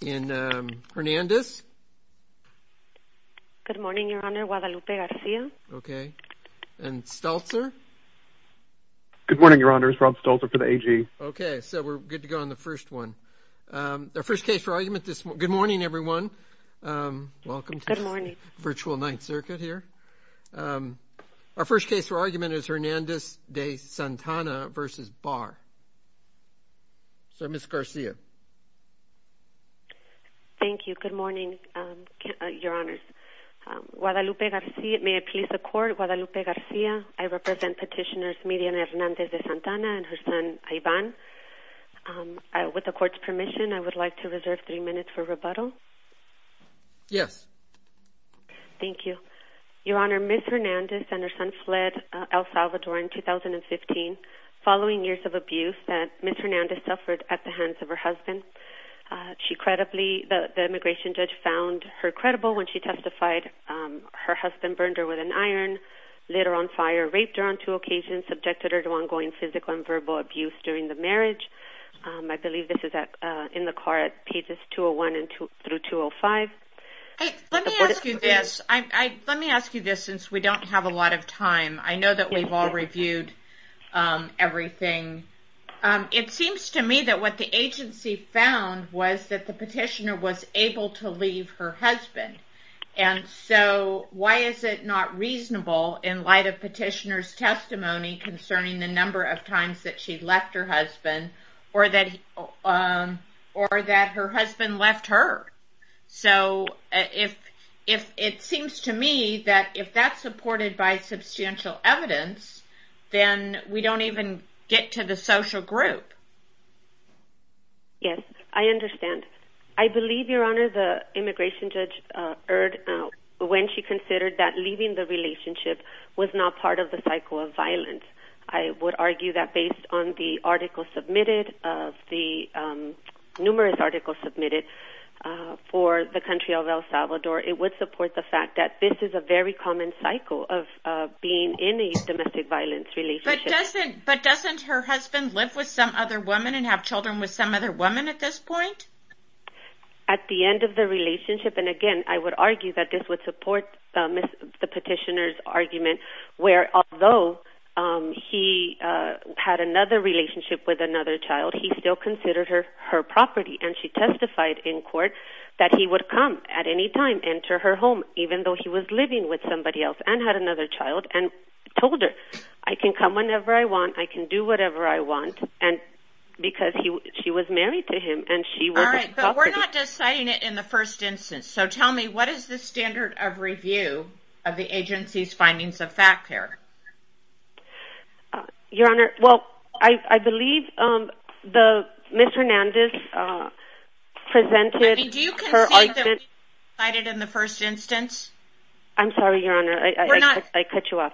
Good morning Your Honor, Guadalupe Garcia. Okay, and Steltzer? Good morning Your Honor, it's Rob Steltzer for the AG. Okay, so we're good to go on the first one. Our first case for argument this morning, good morning everyone, welcome to Virtual Ninth Circuit here. Our first case for argument is Hernandez-De Santana v. William Barr. So Ms. Garcia. Thank you, good morning Your Honor. Guadalupe Garcia, may I please the court, Guadalupe Garcia, I represent petitioners Mirian Hernandez-De Santana and her son Ivan. With the court's permission, I would like to reserve three minutes for rebuttal. Yes. Thank you. Your Honor, Ms. Hernandez and her son fled El Salvador in 2015, following years of abuse that Ms. Hernandez suffered at the hands of her husband. She credibly, the immigration judge found her credible when she testified. Her husband burned her with an iron, lit her on fire, raped her on two occasions, subjected her to ongoing physical and verbal abuse during the marriage. I believe this is in the car at pages 201 through 205. Let me ask you this, let me ask you this since we don't have a lot of time. I know that we've all reviewed everything. It seems to me that what the agency found was that the petitioner was able to leave her husband. And so why is it not reasonable in light of petitioner's testimony concerning the number of times that she left her husband or that her husband left her? So it seems to me that if that's supported by the agency, then we don't even get to the social group. Yes, I understand. I believe Your Honor, the immigration judge erred when she considered that leaving the relationship was not part of the cycle of violence. I would argue that based on the article submitted of the numerous articles submitted for the country of El Salvador, it would support the fact that this is a very common cycle of being in domestic violence. But doesn't her husband live with some other woman and have children with some other woman at this point? At the end of the relationship, and again, I would argue that this would support the petitioner's argument, where although he had another relationship with another child, he still considered her her property. And she testified in court that he would come at any time enter her home, even though he was living with somebody else and had another child, and told her, I can come whenever I want, I can do whatever I want, and because she was married to him and she was adopted. All right, but we're not deciding it in the first instance. So tell me, what is the standard of review of the agency's findings of fact here? Your Honor, well, I believe the Ms. Hernandez presented her argument. I mean, do you concede that we decided in the first instance? I'm sorry, Your Honor. I cut you off.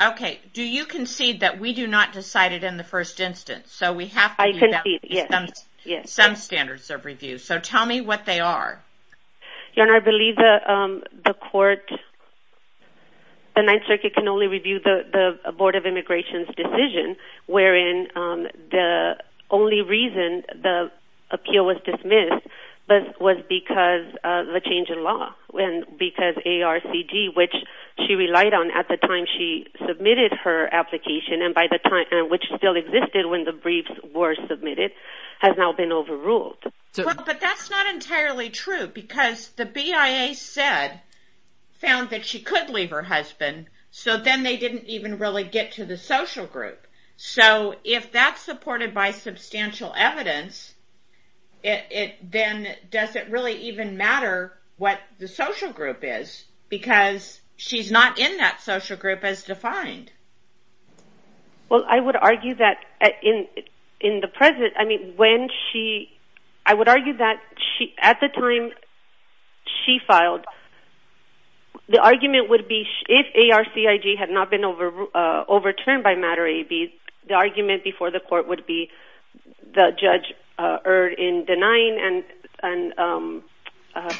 Okay, do you concede that we do not decide it in the first instance? So we have some standards of review. So tell me what they are. Your Honor, I believe the court, the Ninth Circuit, can only review the Board of Immigration's decision, wherein the only reason the appeal was dismissed was because of the change in law. Because ARCD, which she relied on at the time she submitted her application, and by the time, which still existed when the briefs were submitted, has now been overruled. But that's not entirely true because the BIA said, found that she could leave her husband, so then they didn't even really get to the social group. So if that's supported by substantial evidence, then does it really even matter what the social group is? Because she's not in that social group as defined. Well, I would argue that in the present, I mean, when she, I would argue that at the time she filed, the argument would be if ARCIG had not been overturned by Matter-AB, the argument before the court would be the judge erred in denying and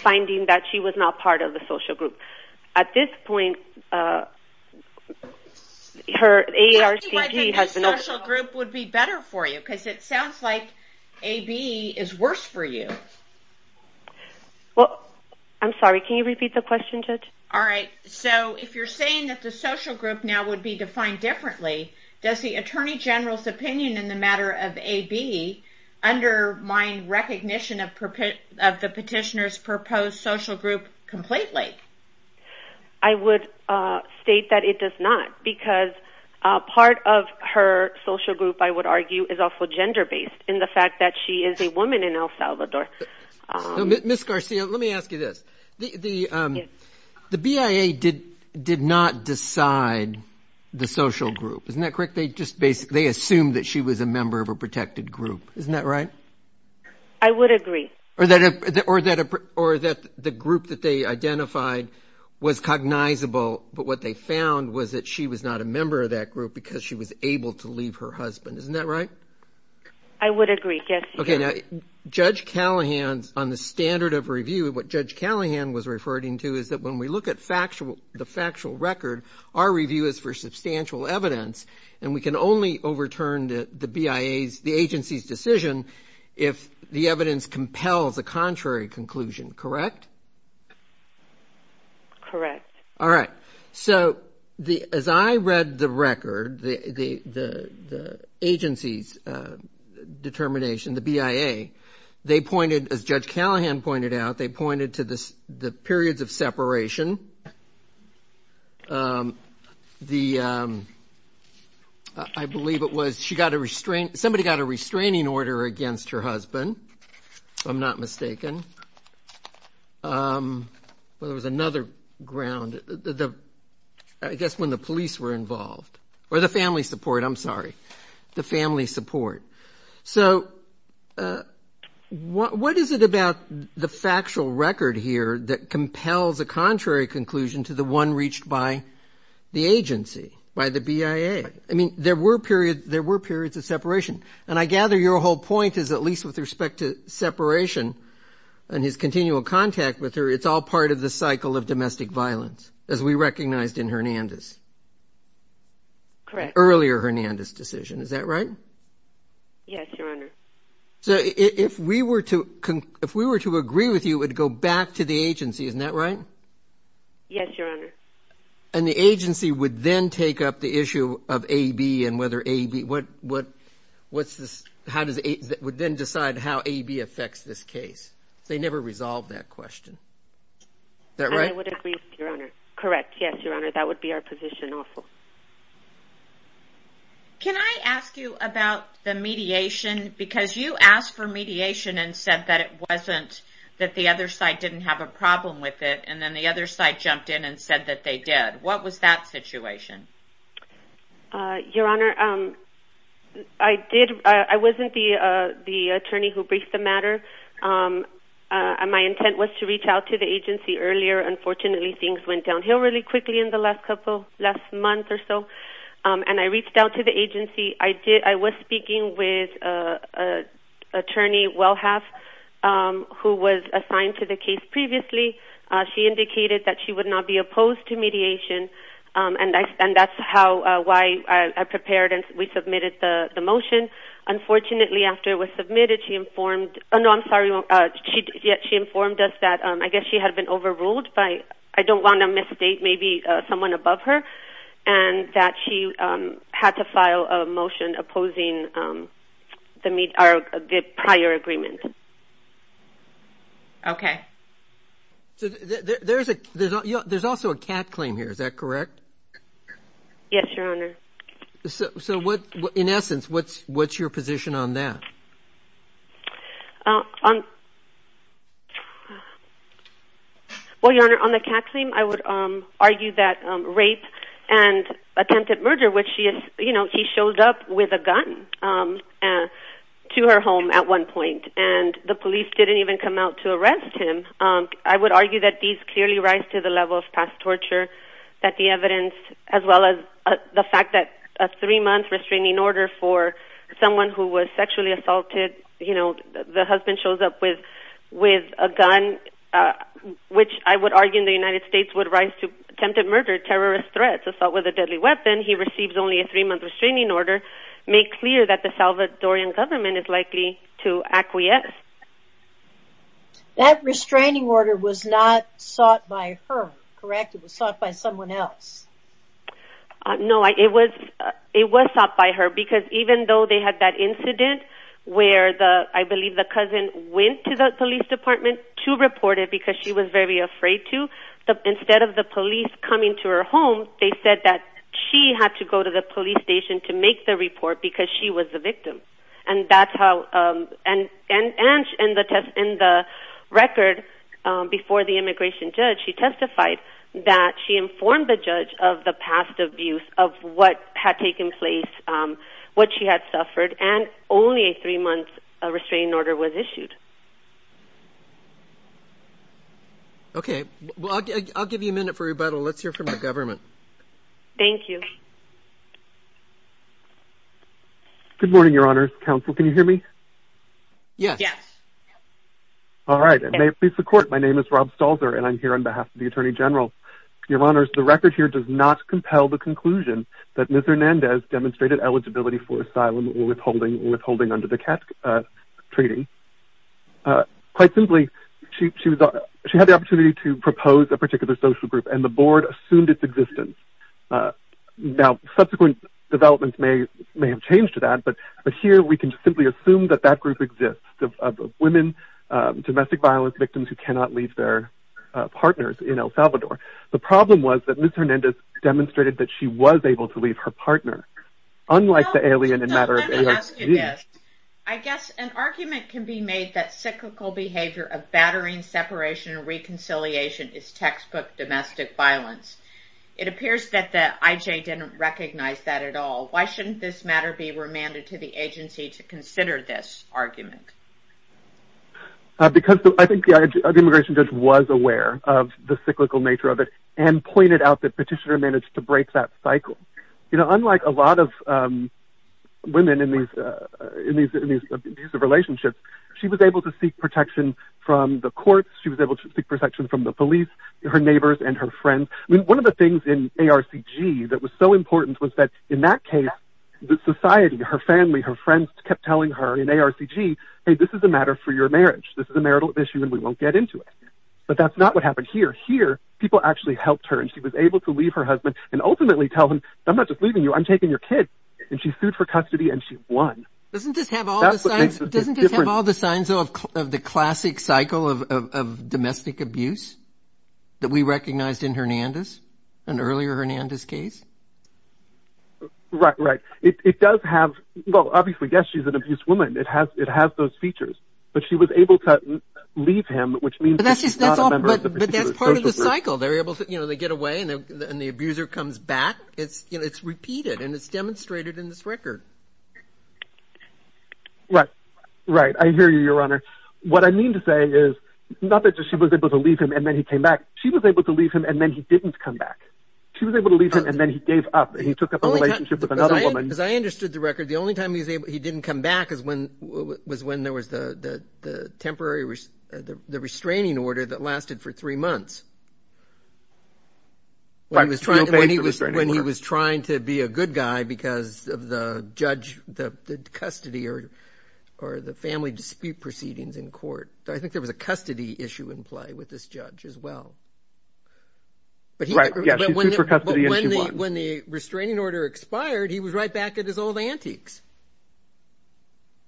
finding that she was not part of the social group. At this point, her ARCIG has been overruled. I think the social group would be better for you because it sounds like AB is worse for you. Well, I'm sorry, can you repeat the question, Judge? All right, so if you're saying that the social group now would be defined differently, does the Attorney General's opinion in the matter of AB undermine recognition of the petitioner's proposed social group completely? I would state that it does not because part of her social group, I would argue, is also gender-based in the fact that she is a woman in El Salvador. Ms. Garcia, let me ask you this. The BIA did not decide the social group, isn't that correct? They just assumed that she was a member of a protected group, isn't that right? I would agree. Or that the group that they identified was cognizable, but what they found was that she was not a member of that group because she was able to leave her husband, isn't that right? I would agree, yes. Okay, now, Judge Callahan, on the standard of review, what Judge Callahan was referring to is that when we look at the factual record, our review is for substantial evidence and we can only overturn the BIA's, the agency's decision if the evidence compels a contrary conclusion, correct? Correct. All right, so as I read the record, the agency's determination, the BIA, they pointed, as Judge Callahan pointed out, they pointed to the periods of separation. I believe it was she got a restraining, somebody got a restraining order against her husband, if I'm not mistaken. Well, there was another ground, I guess when the police were involved, or the family support, I'm sorry, the family support. So what is it about the factual record here that compels a contrary conclusion to the one reached by the agency, by the BIA? I mean, there were periods, there were at least with respect to separation and his continual contact with her, it's all part of the cycle of domestic violence, as we recognized in Hernandez. Correct. Earlier Hernandez decision, is that right? Yes, Your Honor. So if we were to, if we were to agree with you, it would go back to the agency, isn't that right? Yes, Your Honor. And the agency would then take up the issue of AB and whether AB, what, what, what's this, how does it, would then decide how AB affects this case. They never resolved that question. Is that right? I would agree with you, Your Honor. Correct. Yes, Your Honor. That would be our position also. Can I ask you about the mediation? Because you asked for mediation and said that it wasn't, that the other side didn't have a problem with it, and then the other side jumped in and said that they did. What was that situation? Your Honor, I did, I wasn't the attorney who briefed the matter. My intent was to reach out to the agency earlier. Unfortunately, things went downhill really quickly in the last couple, last month or so. And I reached out to the agency. I did, I was speaking with Attorney Welhaff, who was assigned to the case previously. She indicated that she would not be opposed to mediation. And I, and that's how, why I prepared and we submitted the motion. Unfortunately, after it was submitted, she informed, oh no, I'm sorry, she informed us that I guess she had been overruled by, I don't want to misstate, maybe someone above her, and that she had to file a motion opposing the prior agreement. Okay. So there's a, there's also a CAT claim here, is that correct? Yes, Your Honor. So, so what, in essence, what's, what's your position on that? Well, Your Honor, on the CAT claim, I would argue that rape and attempted murder, which she is, you know, he showed up with a gun to her home at one point, and the police didn't even come out to arrest him. I would argue that these clearly rise to the level of past torture, that the evidence, as well as the fact that a three-month restraining order for someone who was sexually assaulted, you know, the husband shows up with, with a gun, which I would argue in the United States would rise to attempted murder, terrorist threats, assault with a deadly weapon. He receives only a three-month restraining order. Make clear that the Salvadorian government is likely to acquiesce. That restraining order was not sought by her, correct? It was sought by someone else. No, it was, it was sought by her because even though they had that incident where the, I believe the cousin went to the police department to report it because she was very afraid to, instead of the police coming to her home, they said that she had to go to the police station to make the report because she was the victim. And that's how, and, and, and in the test, in the record before the immigration judge, she testified that she informed the judge of the past abuse of what had taken place, what she had suffered, and only a three-month restraining order was issued. Okay. Well, I'll give you a minute for rebuttal. Let's hear from the government. Thank you. Good morning, Your Honors. Counsel, can you hear me? Yes. Yes. All right. And may it please the court, my name is Rob Stalzer and I'm here on behalf of the Attorney General. Your Honors, the record here does not compel the conclusion that Ms. Hernandez demonstrated eligibility for asylum or withholding, withholding under the CAT, uh, treating. Uh, quite simply, she, she was, she had the opportunity to propose a particular social group and the board assumed its existence. Uh, now subsequent developments may, may have changed to that, but, but here we can simply assume that that group exists of, of women, um, domestic violence victims who cannot leave their, uh, partners in El Salvador. The problem was that Ms. Hernandez demonstrated that she was able to leave her partner, unlike the alien in matter of, in her case. Let me ask you this. I guess an argument can be made that cyclical behavior of battering separation and reconciliation is textbook domestic violence. It appears that the IJ didn't recognize that at all. Why shouldn't this matter be remanded to the agency to consider this argument? Uh, because I think the IJ, the immigration judge was aware of the cyclical nature of it and pointed out that petitioner managed to break that cycle. You know, unlike a lot of, um, women in these, uh, in these, in these abusive relationships, she was able to seek protection from the courts. She was able to seek protection from the police, her neighbors and her friends. I mean, one of the things in ARCG that was so important was that in that case, the society, her family, her friends kept telling her in ARCG, Hey, this is a matter for your marriage. This is a marital issue and we won't get into it, but that's not what happened here. Here. People actually helped her and she was able to leave her husband and ultimately tell him, I'm not just leaving you, I'm taking your kid and she sued for custody and she won. Doesn't this have all the signs of, of the classic cycle of, of, of domestic abuse that we recognized in Hernandez and earlier Hernandez case? Right, right. It does have, well, obviously, yes, she's an abused woman. It has, it has those features, but she was able to leave him, which means that's part of the cycle. They're able to, you know, they get away and then the abuser comes back. It's, you know, it's repeated and it's demonstrated in this record. Right, right. I hear you, your Honor. What I mean to say is not that she was able to leave him and then he came back, she was able to leave him and then he didn't come back. She was able to leave him and then he gave up and he took up a relationship with another woman. As I understood the record, the only time he was able, he didn't come back is when, was when there was the, the, the temporary restraining order that lasted for three months. When he was trying to be a good man, he was a bad guy because of the judge, the custody or, or the family dispute proceedings in court. I think there was a custody issue in play with this judge as well. But when the, when the restraining order expired, he was right back at his old antiques.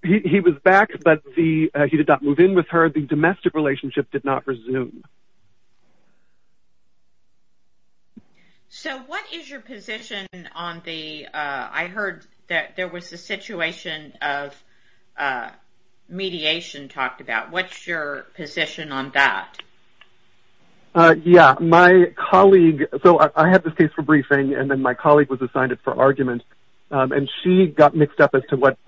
He, he was back, but the, he did not move in with her. The domestic relationship did not resume. So, what is your position on the, I heard that there was a situation of mediation talked about. What's your position on that? Yeah, my colleague, so I had this case for briefing and then my colleague was assigned it for argument and she got mixed up as to what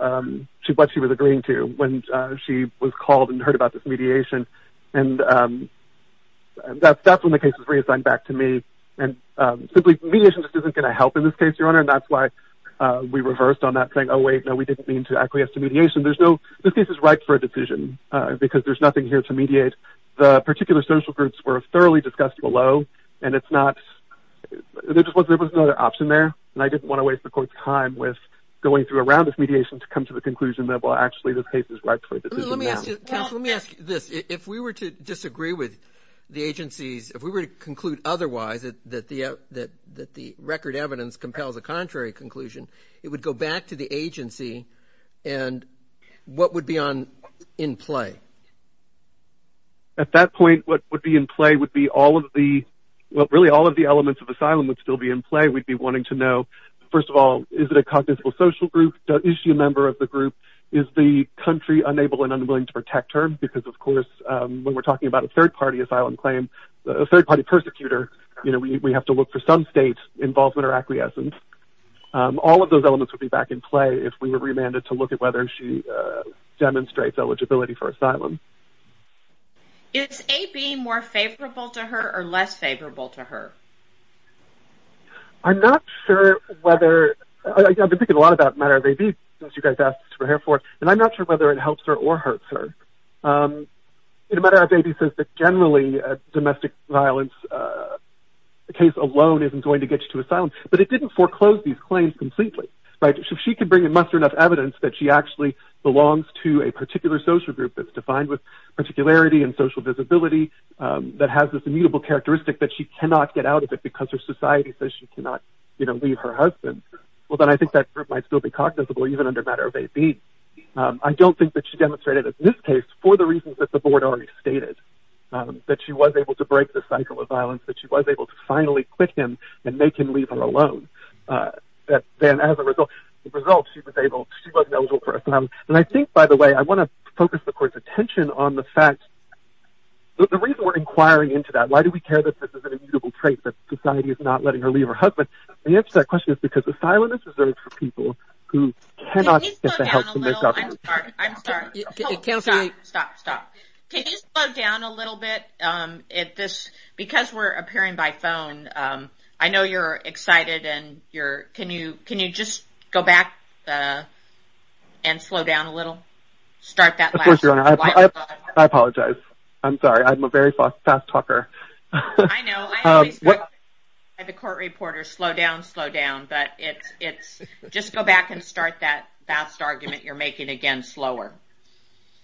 she, what she was agreeing to when she was called and heard about this mediation. And that's, that's when the case was reassigned back to me and simply mediation just isn't going to help in this case, your honor. And that's why we reversed on that thing. Oh wait, no, we didn't mean to acquiesce to mediation. There's no, this case is ripe for a decision because there's nothing here to mediate. The particular social groups were thoroughly discussed below and it's not, there just wasn't, there was no other option there. And I didn't want to waste the court's time with going through a round of mediation to come to the conclusion that, well, actually this case is ripe for a decision. Let me ask you this. If we were to disagree with the agencies, if we were to conclude otherwise, that, that the, that, that the record evidence compels a contrary conclusion, it would go back to the agency and what would be on, in play? At that point, what would be in play would be all of the, well, really all of the elements of asylum would still be in play. We'd be wanting to know, first of all, is it a cognizable social group? Is she a member of the group? Is the country unable and unwilling to protect her? Because of course, when we're talking about a third party asylum claim, a third party persecutor, you know, we, we have to look for some state involvement or acquiescence. All of those elements would be back in play if we were remanded to look at whether she demonstrates eligibility for asylum. Is AB more favorable to her or less favorable to her? I'm not sure whether, I've been thinking a lot about matter of AB since you guys asked to prepare for it, and I'm not sure whether it helps her or hurts her. In a matter of AB, it says that generally domestic violence, the case alone isn't going to get you to asylum, but it didn't foreclose these claims completely, right? So if she can bring in much enough evidence that she actually belongs to a particular social group that's defined with particularity and social visibility, that has this immutable characteristic that she cannot get out of it because her society says she cannot, you know, leave her husband. Well, then I think that group might still be cognizable even under matter of AB. I don't think that she demonstrated, in this case, for the reasons that the board already stated, that she was able to break the cycle of violence, that she was able to finally quit him and make him leave her alone. Then as a result, she was able, she was eligible for asylum. And I think, by the way, I want to focus the court's attention on the fact, the reason we're inquiring into that, why do we care that this is an immutable trait, that society is not letting her leave her husband? The answer to that question is because asylum is reserved for people who cannot get the help from their government. Can you slow down a little? I'm sorry, I'm sorry. Stop, stop, stop. Can you slow down a little bit? Because we're appearing by phone, I know you're excited and you're, can you just go back and slow down a little? Start that last slide. I apologize. I'm sorry, I'm a very fast talker. I know, I always go by the court reporter, slow down, slow down, but it's, just go back and start that last argument you're making again slower.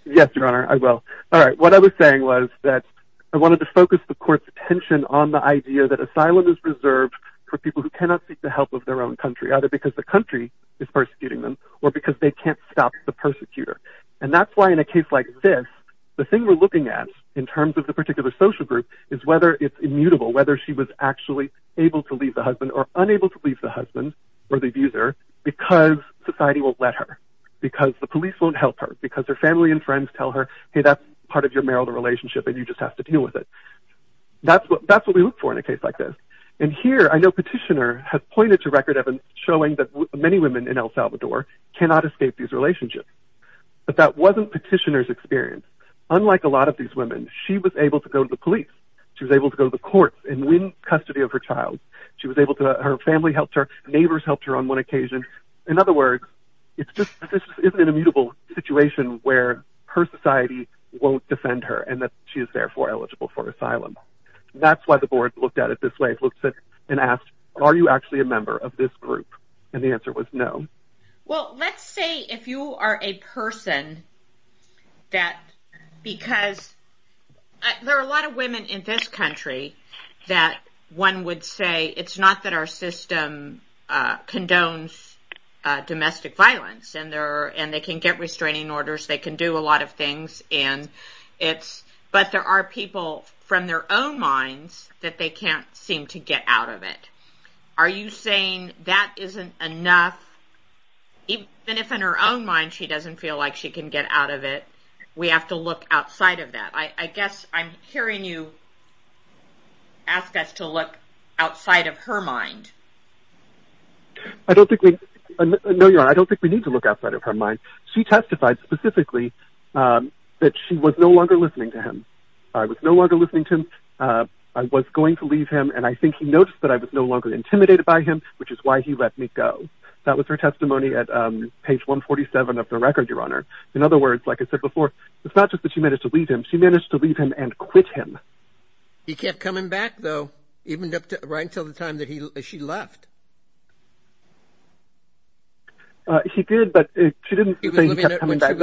Yes, Your Honor, I will. All right, what I was saying was that I wanted to focus the court's attention on the idea that asylum is reserved for people who cannot seek the help of their own country, either because the country is persecuting them, or because they can't stop the persecutor. And that's why, in a case like this, the thing we're looking at, in terms of the particular social group, is whether it's immutable, whether she was actually able to leave the husband, or unable to leave the husband, or the abuser, because society won't let her, because the police won't help her, because her family and friends tell her, hey, that's part of your marital relationship and you just have to deal with it. That's what we look for in a case like this. And here, I know Petitioner has pointed to record evidence showing that many women in But that wasn't Petitioner's experience. Unlike a lot of these women, she was able to go to the police. She was able to go to the courts and win custody of her child. She was able to, her family helped her, neighbors helped her on one occasion. In other words, it's just, this is an immutable situation where her society won't defend her, and that she is therefore eligible for asylum. That's why the board looked at it this way, and asked, are you actually a member of this group? And the answer was no. Well, let's say if you are a person that, because, there are a lot of women in this country that one would say, it's not that our system condones domestic violence, and they can get restraining orders, they can do a lot of things, and it's, but there are people from their own minds that they can't seem to get out of it. Are you saying that that isn't enough? Even if in her own mind she doesn't feel like she can get out of it, we have to look outside of that. I guess I'm hearing you ask us to look outside of her mind. I don't think we, no you're right, I don't think we need to look outside of her mind. She testified specifically that she was no longer listening to him. I was no longer listening to him. I was going to leave him, and I think he noticed that I was no longer intimidated by him, which is why he let me go. That was her testimony at page 147 of the record, your honor. In other words, like I said before, it's not just that she managed to leave him, she managed to leave him and quit him. He kept coming back, though, even up to, right until the time that she left. He did, but she didn't say he kept coming back.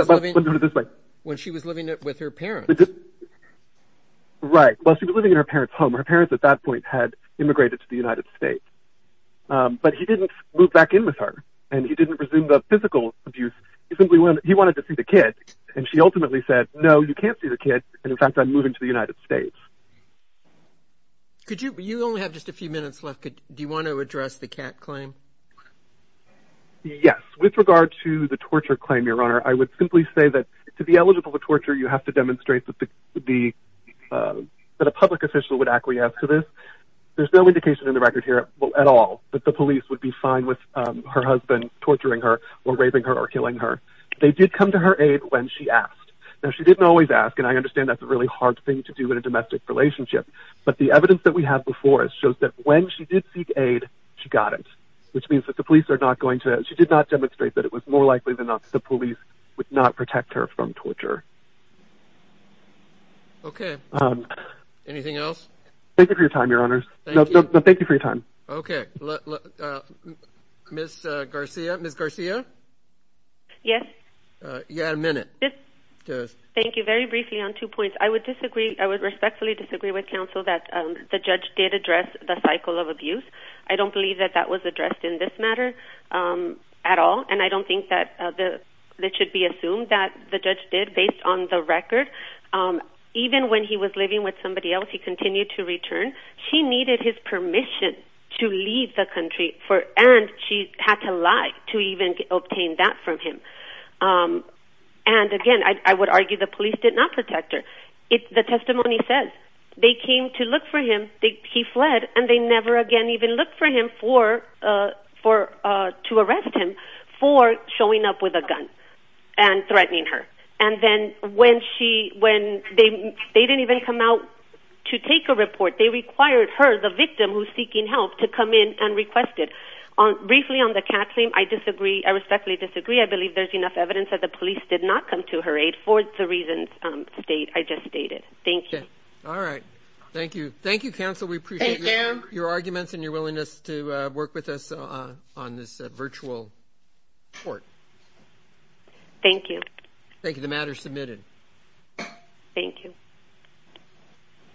When she was living with her parents. Right, while she was living in her parents' home, her parents at that point had immigrated to the United States. But he didn't move back in with her, and he didn't resume the physical abuse, he simply wanted to see the kid, and she ultimately said, no, you can't see the kid, and in fact I'm moving to the United States. Could you, you only have just a few minutes left, do you want to address the cat claim? Yes, with regard to the torture claim, your honor, I would simply say that to be eligible for torture, you have to demonstrate that a public official would acquiesce to this. There's no indication in the record here at all that the police would be fine with her husband torturing her or raping her or killing her. They did come to her aid when she asked. Now, she didn't always ask, and I understand that's a really hard thing to do in a domestic relationship, but the evidence that we have before us shows that when she did seek aid, she got it. Which means that the police are not going to, she did not demonstrate that it was more than torture. Okay. Anything else? Thank you for your time, your honors. Thank you. No, thank you for your time. Okay. Ms. Garcia, Ms. Garcia? Yes. You had a minute. Yes. Thank you. Very briefly on two points. I would disagree, I would respectfully disagree with counsel that the judge did address the cycle of abuse. I don't believe that that was addressed in this matter at all, and I don't think that it should be assumed that the judge did. I think that the captain was actually very concerned about him leaving the country, and based on the record, even when he was living with somebody else, he continued to return. She needed his permission to leave the country and she had to lie to even obtain that from him. And again, I would argue the police did not protect her. The testimony says they came to look for him. He fled, and they never again even looked for him to arrest him for showing up with a gun and threatening her. And then when they didn't even come out to take a report, they required her, the victim who's seeking help, to come in and request it. Briefly, on the cap claim, I respectfully disagree. I believe there's enough evidence that the police did not come to her aid for the reasons I just stated. Thank you. All right. Thank you. Thank you, counsel. We appreciate your arguments and your willingness to work with us on this virtual report. Thank you. Thank you. The matter is submitted. Thank you.